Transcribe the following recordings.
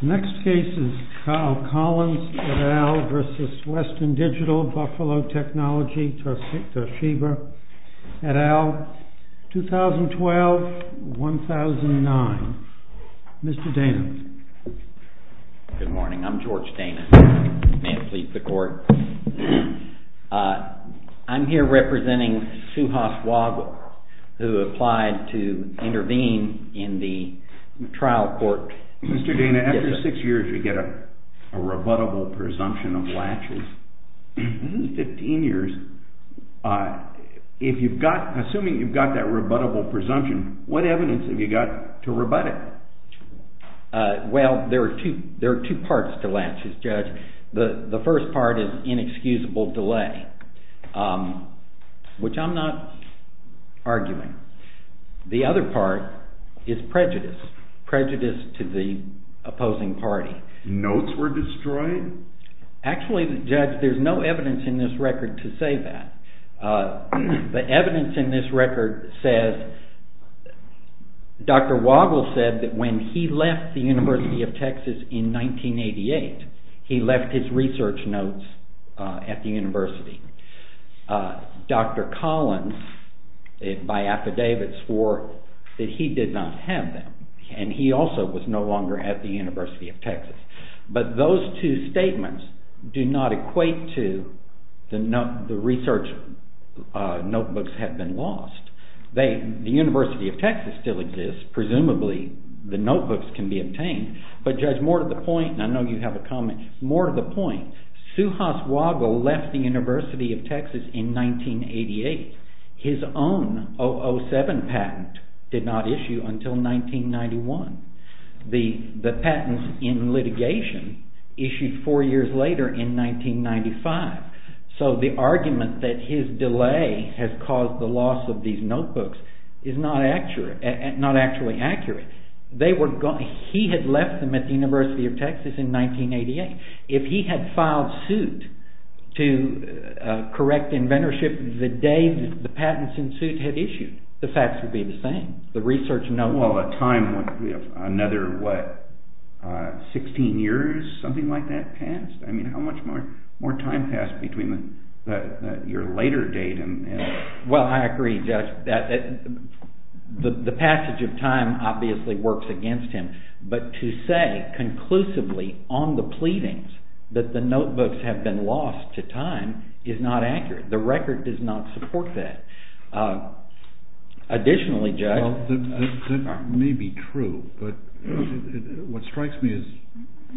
BUFFALO TECHNOLOGY, TOSHIBA, 2012-2009 Mr. Dana. Good morning, I'm George Dana. May it please the court. I'm here representing Suhas Wadhwa, who applied to intervene in the trial court. Mr. Dana, after six years you get a rebuttable presumption of latches. This is 15 years. Assuming you've got that rebuttable presumption, what evidence have you got to rebut it? Well, there are two parts to latches, Judge. The first part is inexcusable delay, which I'm not arguing. The other part is prejudice. Prejudice to the opposing party. Notes were destroyed? Actually, Judge, there's no evidence in this record to say that. The evidence in this record says, Dr. Wadhwa said that when he left the University of Texas in 1988, he left his research notes at the university. Dr. Collins, by affidavits, swore that he did not have them, and he also was no longer at the University of Texas. But those two statements do not equate to the research notebooks have been lost. The University of Texas still exists. Presumably the notebooks can be obtained. But Judge, more to the point, and I know you have a comment, Suhas Wadhwa left the University of Texas in 1988. His own 007 patent did not issue until 1991. The patents in litigation issued four years later in 1995. So the argument that his delay has caused the loss of these notebooks is not actually accurate. He had left them at the University of Texas in 1988. If he had filed suit to correct inventorship the day the patents in suit had issued, the facts would be the same. Well, a time, another, what, 16 years, something like that passed? I mean, how much more time passed between your later date? Well, I agree, Judge. The passage of time obviously works against him. But to say conclusively on the pleadings that the notebooks have been lost to time is not accurate. The record does not support that. Additionally, Judge… Well, that may be true, but what strikes me is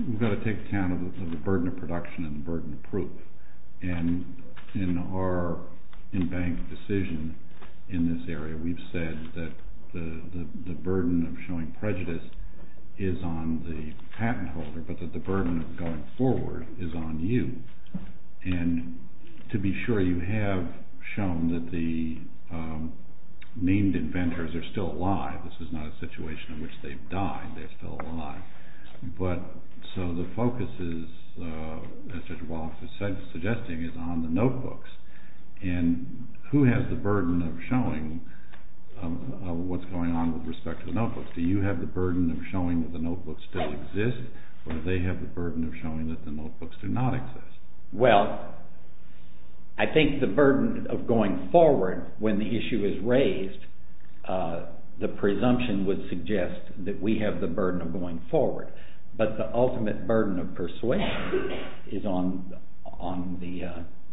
we've got to take account of the burden of production and the burden of proof. And in our in-bank decision in this area, we've said that the burden of showing prejudice is on the patent holder, but that the burden of going forward is on you. And to be sure, you have shown that the named inventors are still alive. This is not a situation in which they've died. They're still alive. But, so the focus is, as Judge Walsh is suggesting, is on the notebooks. And who has the burden of showing what's going on with respect to the notebooks? Do you have the burden of showing that the notebooks still exist, or do they have the burden of showing that the notebooks do not exist? Well, I think the burden of going forward, when the issue is raised, the presumption would suggest that we have the burden of going forward. But the ultimate burden of persuasion is on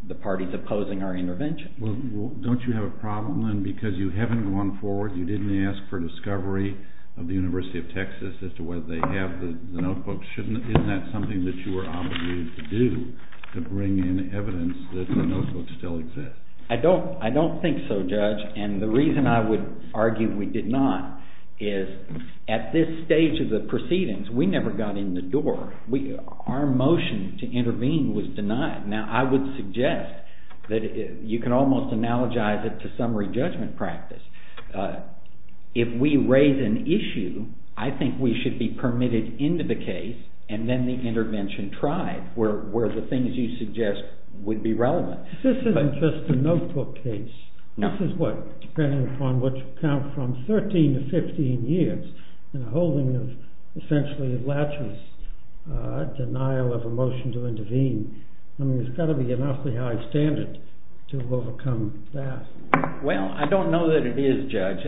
the parties opposing our intervention. Well, don't you have a problem, then, because you haven't gone forward, you didn't ask for discovery of the University of Texas as to whether they have the notebooks. Isn't that something that you were obligated to do, to bring in evidence that the notebooks still exist? I don't think so, Judge. And the reason I would argue we did not is, at this stage of the proceedings, we never got in the door. Our motion to intervene was denied. Now, I would suggest that you can almost analogize it to summary judgment practice. If we raise an issue, I think we should be permitted into the case, and then the intervention tried, where the things you suggest would be relevant. This isn't just a notebook case. This is, what, depending upon what you count from 13 to 15 years, and a holding of, essentially, a latent denial of a motion to intervene. I mean, there's got to be an awfully high standard to overcome that. Well, I don't know that it is, Judge.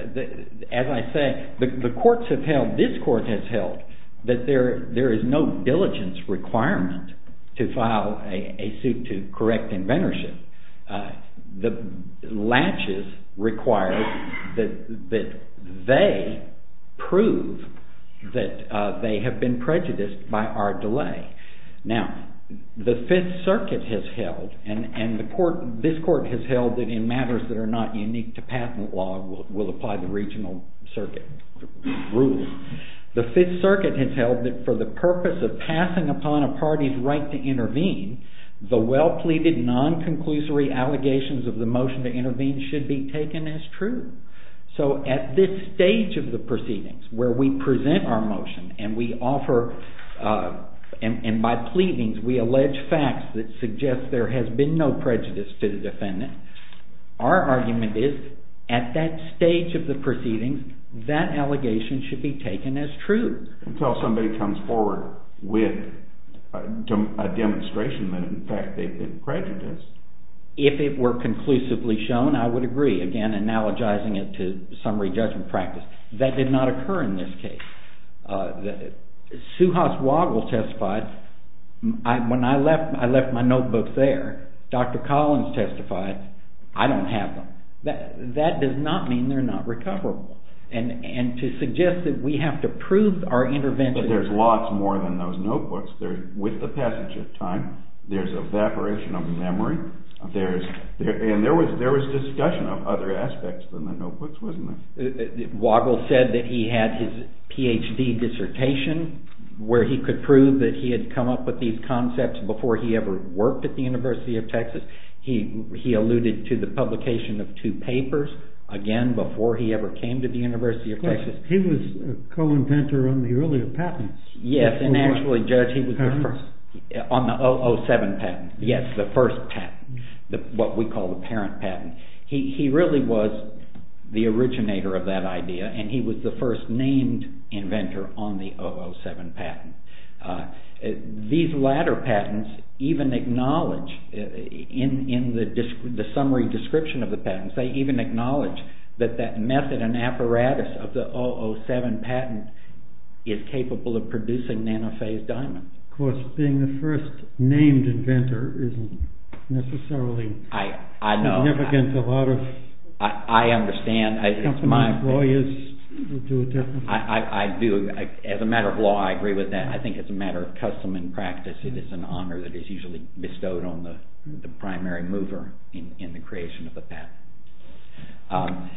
As I say, the courts have held, this court has held, that there is no diligence requirement to file a suit to correct inventorship. The latches require that they prove that they have been prejudiced by our delay. Now, the Fifth Circuit has held, and this court has held that in matters that are not unique to patent law, we'll apply the regional circuit rule. The Fifth Circuit has held that for the purpose of passing upon a party's right to intervene, the well-pleaded, non-conclusory allegations of the motion to intervene should be taken as true. So, at this stage of the proceedings, where we present our motion, and we offer, and by pleadings, we allege facts that suggest there has been no prejudice to the defendant, our argument is, at that stage of the proceedings, that allegation should be taken as true. Until somebody comes forward with a demonstration that, in fact, they've been prejudiced. If it were conclusively shown, I would agree. Again, analogizing it to summary judgment practice. That did not occur in this case. Suhas Wagle testified, when I left my notebooks there, Dr. Collins testified, I don't have them. That does not mean they're not recoverable. And to suggest that we have to prove our intervention… There's lots more than those notebooks. With the passage of time, there's evaporation of memory. And there was discussion of other aspects than the notebooks, wasn't there? Wagle said that he had his Ph.D. dissertation, where he could prove that he had come up with these concepts before he ever worked at the University of Texas. He alluded to the publication of two papers, again, before he ever came to the University of Texas. He was a co-inventor on the earlier patents. Yes, and actually, Judge, he was the first. On the 007 patent. Yes, the first patent. What we call the parent patent. He really was the originator of that idea, and he was the first named inventor on the 007 patent. These latter patents even acknowledge, in the summary description of the patents, they even acknowledge that that method and apparatus of the 007 patent is capable of producing nanophase diamonds. Of course, being the first named inventor isn't necessarily significant to a lot of… I understand. …company employers who do it differently. I do. As a matter of law, I agree with that. I think as a matter of custom and practice, it is an honor that is usually bestowed on the primary mover in the creation of the patent.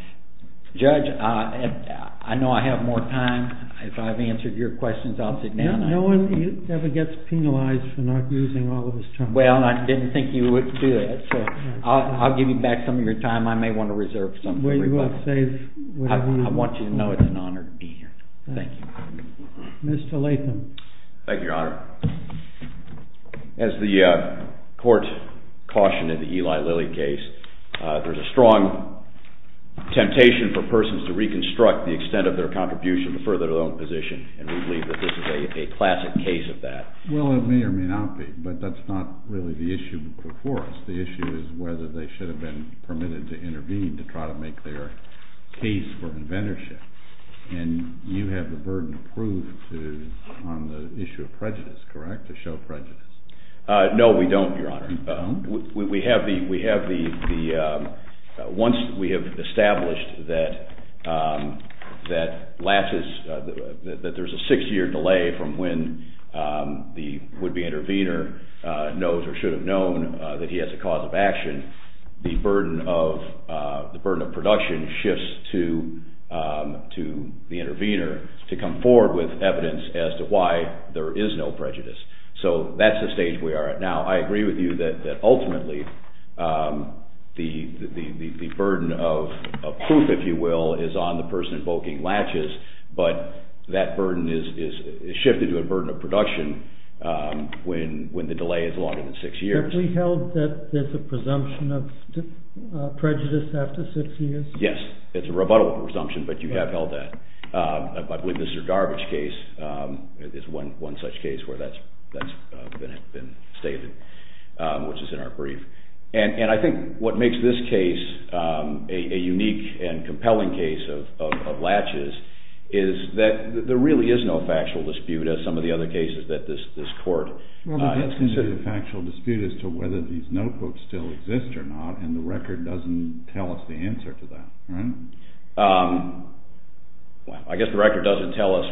Judge, I know I have more time. If I've answered your questions, I'll sit down. No one ever gets penalized for not using all of his time. Well, I didn't think you would do that, so I'll give you back some of your time. I may want to reserve some for everybody. I want you to know it's an honor to be here. Thank you. Mr. Latham. Thank you, Your Honor. As the court cautioned in the Eli Lilly case, there's a strong temptation for persons to reconstruct the extent of their contribution to further their own position, and we believe that this is a classic case of that. Well, it may or may not be, but that's not really the issue before us. The issue is whether they should have been permitted to intervene to try to make their case for inventorship, and you have the burden of proof on the issue of prejudice, correct, to show prejudice? No, we don't, Your Honor. Once we have established that there's a six-year delay from when the would-be intervener knows or should have known that he has a cause of action, the burden of production shifts to the intervener to come forward with evidence as to why there is no prejudice. So that's the stage we are at now. I agree with you that ultimately the burden of proof, if you will, is on the person invoking latches, but that burden is shifted to a burden of production when the delay is longer than six years. Have we held that there's a presumption of prejudice after six years? Yes, it's a rebuttal presumption, but you have held that. I believe Mr. Garbage's case is one such case where that's been stated, which is in our brief. And I think what makes this case a unique and compelling case of latches is that there really is no factual dispute, as some of the other cases that this court has considered. There really is a factual dispute as to whether these notebooks still exist or not, and the record doesn't tell us the answer to that, right? I guess the record doesn't tell us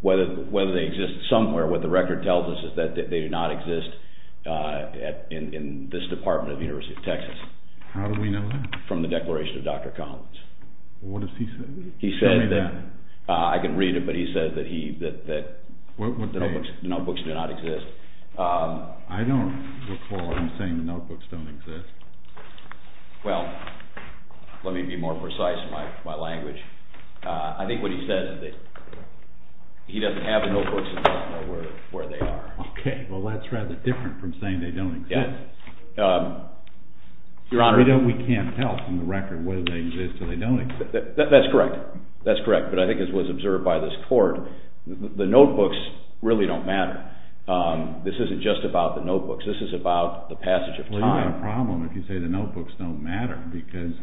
whether they exist somewhere. What the record tells us is that they do not exist in this Department of the University of Texas. How do we know that? From the declaration of Dr. Collins. What does he say? Tell me that. I can read it, but he says that notebooks do not exist. I don't recall him saying that notebooks don't exist. Well, let me be more precise in my language. I think what he says is that he doesn't have the notebooks and doesn't know where they are. Okay, well that's rather different from saying they don't exist. Yes, Your Honor. We can't tell from the record whether they exist or they don't exist. That's correct, but I think as was observed by this court, the notebooks really don't matter. This isn't just about the notebooks. This is about the passage of time. Well, you have a problem if you say the notebooks don't matter, because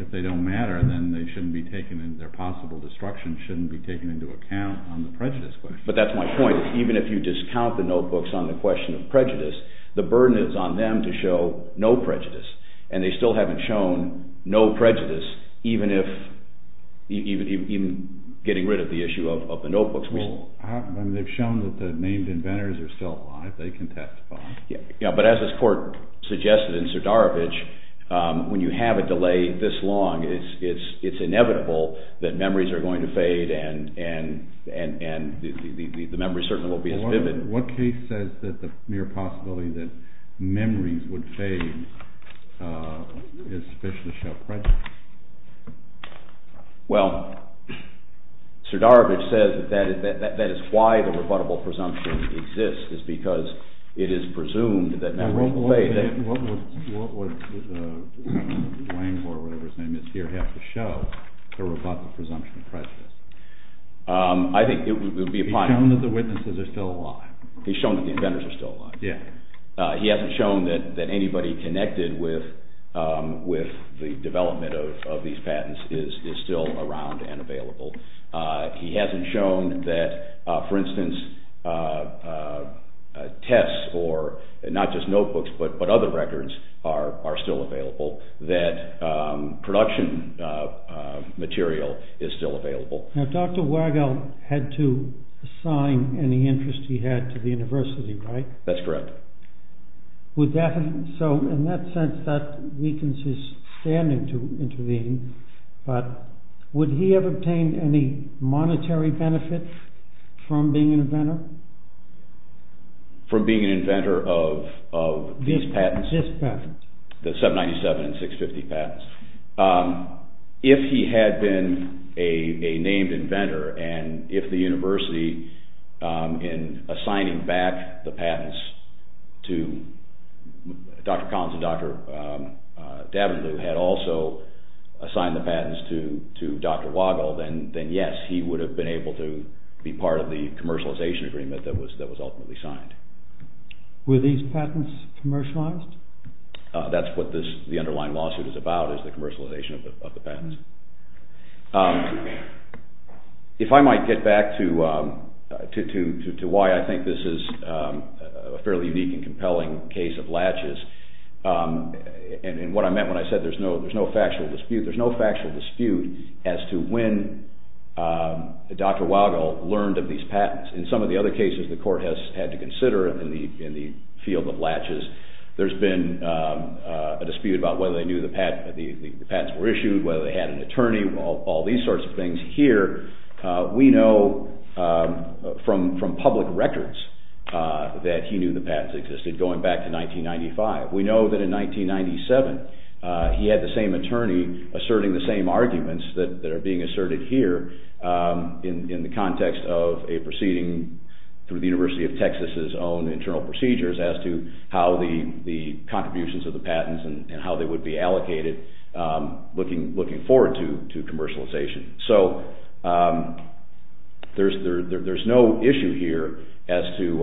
if they don't matter, then their possible destruction shouldn't be taken into account on the prejudice question. But that's my point. Even if you discount the notebooks on the question of prejudice, the burden is on them to show no prejudice. And they still haven't shown no prejudice, even getting rid of the issue of the notebooks. Well, they've shown that the named inventors are still alive. They can testify. But as this court suggested in Sardarovich, when you have a delay this long, it's inevitable that memories are going to fade and the memories certainly won't be as vivid. What case says that the mere possibility that memories would fade is sufficiently show prejudice? Well, Sardarovich says that that is why the rebuttable presumption exists, is because it is presumed that memories will fade. What would Langhor, or whatever his name is here, have to show to rebut the presumption of prejudice? I think it would be a… He's shown that the witnesses are still alive. He's shown that the inventors are still alive. Yes. He hasn't shown that anybody connected with the development of these patents is still around and available. He hasn't shown that, for instance, tests or not just notebooks but other records are still available, that production material is still available. Now, Dr. Wagel had to assign any interest he had to the university, right? That's correct. So, in that sense, that weakens his standing to intervene, but would he have obtained any monetary benefit from being an inventor? From being an inventor of these patents? These patents. The 797 and 650 patents. If he had been a named inventor and if the university, in assigning back the patents to Dr. Collins and Dr. Davenport, had also assigned the patents to Dr. Wagel, then yes, he would have been able to be part of the commercialization agreement that was ultimately signed. Were these patents commercialized? That's what the underlying lawsuit is about, is the commercialization of the patents. If I might get back to why I think this is a fairly unique and compelling case of latches, and what I meant when I said there's no factual dispute, there's no factual dispute as to when Dr. Wagel learned of these patents. In some of the other cases the court has had to consider in the field of latches, there's been a dispute about whether they knew the patents were issued, whether they had an attorney, all these sorts of things. Here, we know from public records that he knew the patents existed going back to 1995. We know that in 1997 he had the same attorney asserting the same arguments that are being asserted here in the context of a proceeding through the University of Texas' own internal procedures as to how the contributions of the patents and how they would be allocated looking forward to commercialization. There's no issue here as to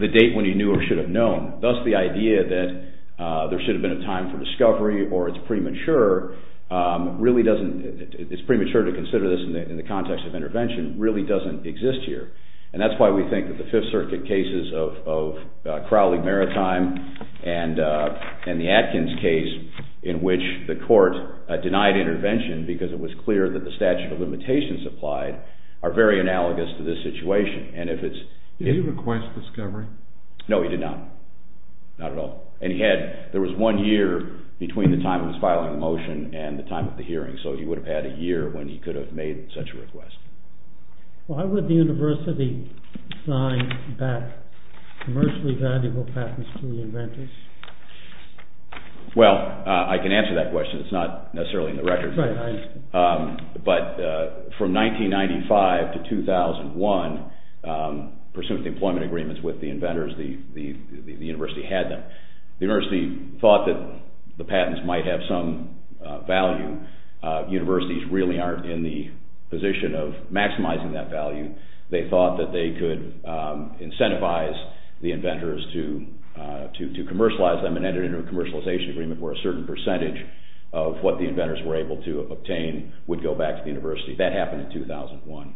the date when he knew or should have known. Thus, the idea that there should have been a time for discovery or it's premature to consider this in the context of intervention really doesn't exist here. That's why we think that the Fifth Circuit cases of Crowley Maritime and the Atkins case in which the court denied intervention because it was clear that the statute of limitations applied are very analogous to this situation. Did he request discovery? No, he did not. Not at all. There was one year between the time of his filing the motion and the time of the hearing, so he would have had a year when he could have made such a request. Why would the university sign back commercially valuable patents to the inventors? Well, I can answer that question. It's not necessarily in the record. Right, I understand. But from 1995 to 2001, pursuant to employment agreements with the inventors, the university had them. The university thought that the patents might have some value. Universities really aren't in the position of maximizing that value. They thought that they could incentivize the inventors to commercialize them and enter into a commercialization agreement where a certain percentage of what the inventors were able to obtain would go back to the university. That happened in 2001.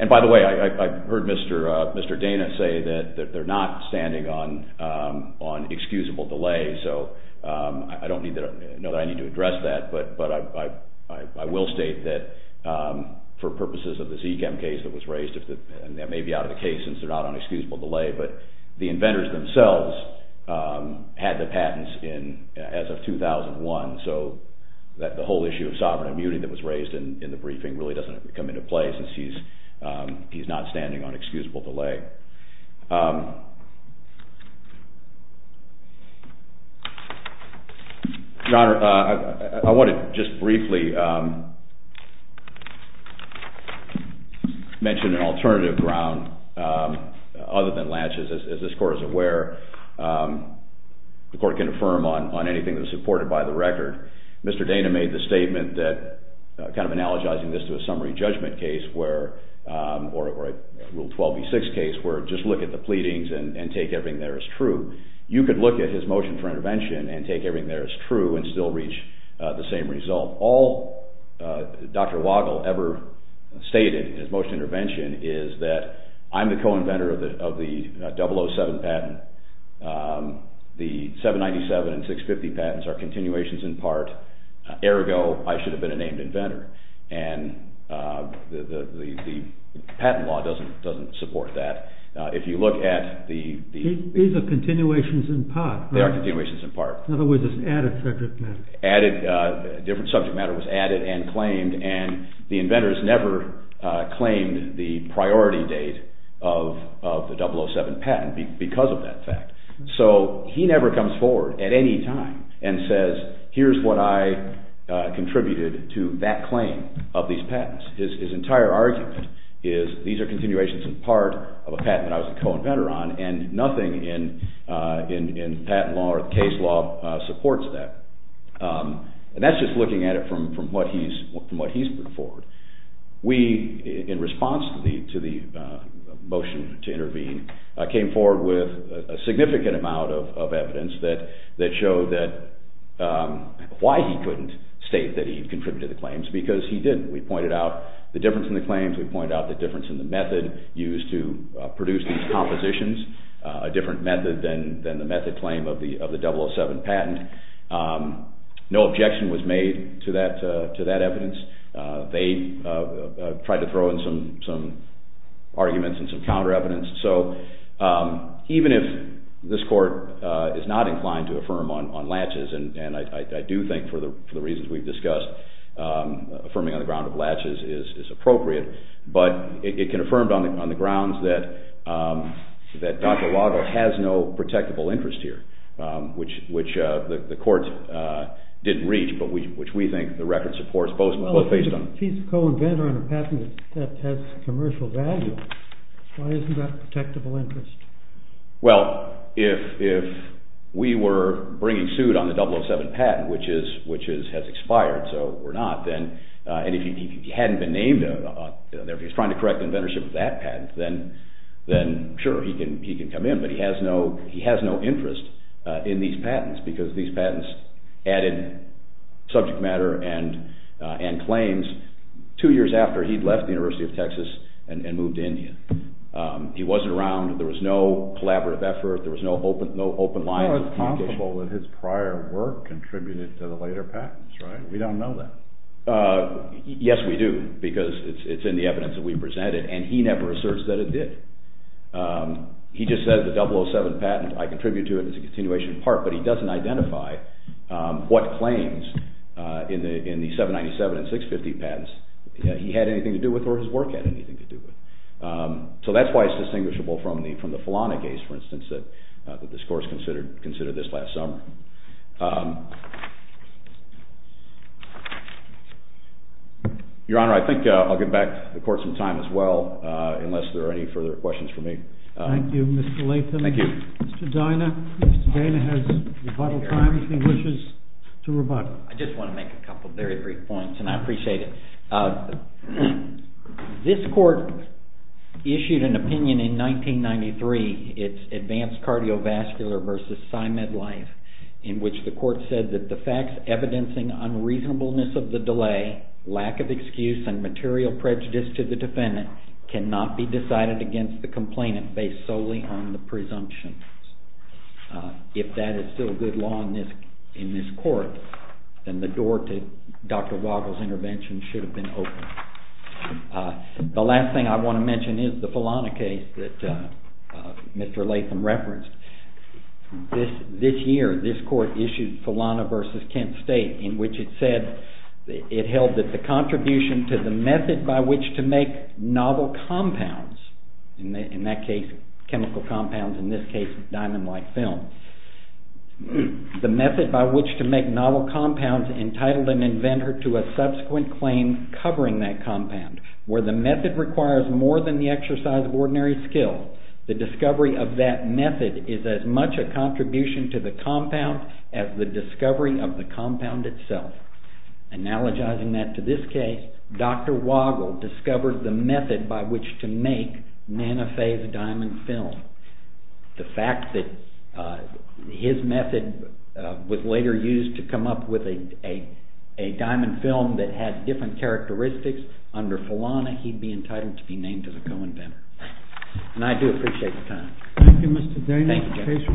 And by the way, I heard Mr. Dana say that they're not standing on excusable delay, so I don't know that I need to address that, but I will state that for purposes of the Zchem case that was raised, and that may be out of the case since they're not on excusable delay, but the inventors themselves had the patents as of 2001, so the whole issue of sovereign immunity that was raised in the briefing really doesn't come into play since he's not standing on excusable delay. Your Honor, I want to just briefly mention an alternative ground other than laches. As this Court is aware, the Court can affirm on anything that is supported by the record. Mr. Dana made the statement that, kind of analogizing this to a summary judgment case or a Rule 12b-6 case where just look at the pleadings and take everything there as true, you could look at his motion for intervention and take everything there as true and still reach the same result. All Dr. Waddell ever stated in his motion for intervention is that I'm the co-inventor of the 007 patent, the 797 and 650 patents are continuations in part, ergo I should have been a named inventor, and the patent law doesn't support that. These are continuations in part. They are continuations in part. In other words, it's added subject matter. A different subject matter was added and claimed and the inventors never claimed the priority date of the 007 patent because of that fact. So he never comes forward at any time and says here's what I contributed to that claim of these patents. His entire argument is these are continuations in part of a patent that I was a co-inventor on and nothing in patent law or case law supports that. And that's just looking at it from what he's put forward. We, in response to the motion to intervene, came forward with a significant amount of evidence that showed why he couldn't state that he contributed the claims because he didn't. We pointed out the difference in the claims. We pointed out the difference in the method used to produce these compositions, a different method than the method claim of the 007 patent. No objection was made to that evidence. They tried to throw in some arguments and some counter evidence. So even if this court is not inclined to affirm on latches, and I do think for the reasons we've discussed, affirming on the ground of latches is appropriate, but it can affirm on the grounds that Dr. Waddle has no protectable interest here, which the court didn't reach but which we think the record supports both based on… If he's a co-inventor on a patent that has commercial value, why isn't that a protectable interest? Well, if we were bringing suit on the 007 patent, which has expired, so we're not, and if he hadn't been named, if he's trying to correct inventorship of that patent, then sure, he can come in, but he has no interest in these patents because these patents added subject matter and claims two years after he'd left the University of Texas and moved to India. He wasn't around. There was no collaborative effort. There was no open line. It's not impossible that his prior work contributed to the later patents, right? We don't know that. Yes, we do because it's in the evidence that we presented, and he never asserts that it did. He just says the 007 patent, I contribute to it as a continuation part, but he doesn't identify what claims in the 797 and 650 patents he had anything to do with or his work had anything to do with. So that's why it's distinguishable from the Falana case, for instance, that this court considered this last summer. Your Honor, I think I'll give back the court some time as well, unless there are any further questions for me. Thank you, Mr. Latham. Mr. Dana has rebuttal time if he wishes to rebut. I just want to make a couple very brief points, and I appreciate it. This court issued an opinion in 1993. It's Advanced Cardiovascular vs. PsyMed Life, in which the court said that the facts evidencing unreasonableness of the delay, lack of excuse, and material prejudice to the defendant cannot be decided against the complainant based solely on the presumptions. If that is still good law in this court, then the door to Dr. Wagle's intervention should have been open. The last thing I want to mention is the Falana case that Mr. Latham referenced. This year, this court issued Falana vs. Kent State, in which it said it held that the contribution to the method by which to make novel compounds, in that case chemical compounds, in this case diamond-like films, the method by which to make novel compounds entitled an inventor to a subsequent claim covering that compound, where the method requires more than the exercise of ordinary skill, the discovery of that method is as much a contribution to the compound as the discovery of the compound itself. Analogizing that to this case, Dr. Wagle discovered the method by which to make nanophase diamond film. The fact that his method was later used to come up with a diamond film that had different characteristics under Falana, he'd be entitled to be named as a co-inventor. And I do appreciate the time. Thank you, Mr. Day. Thank you, Jeff. This case will be taken under review.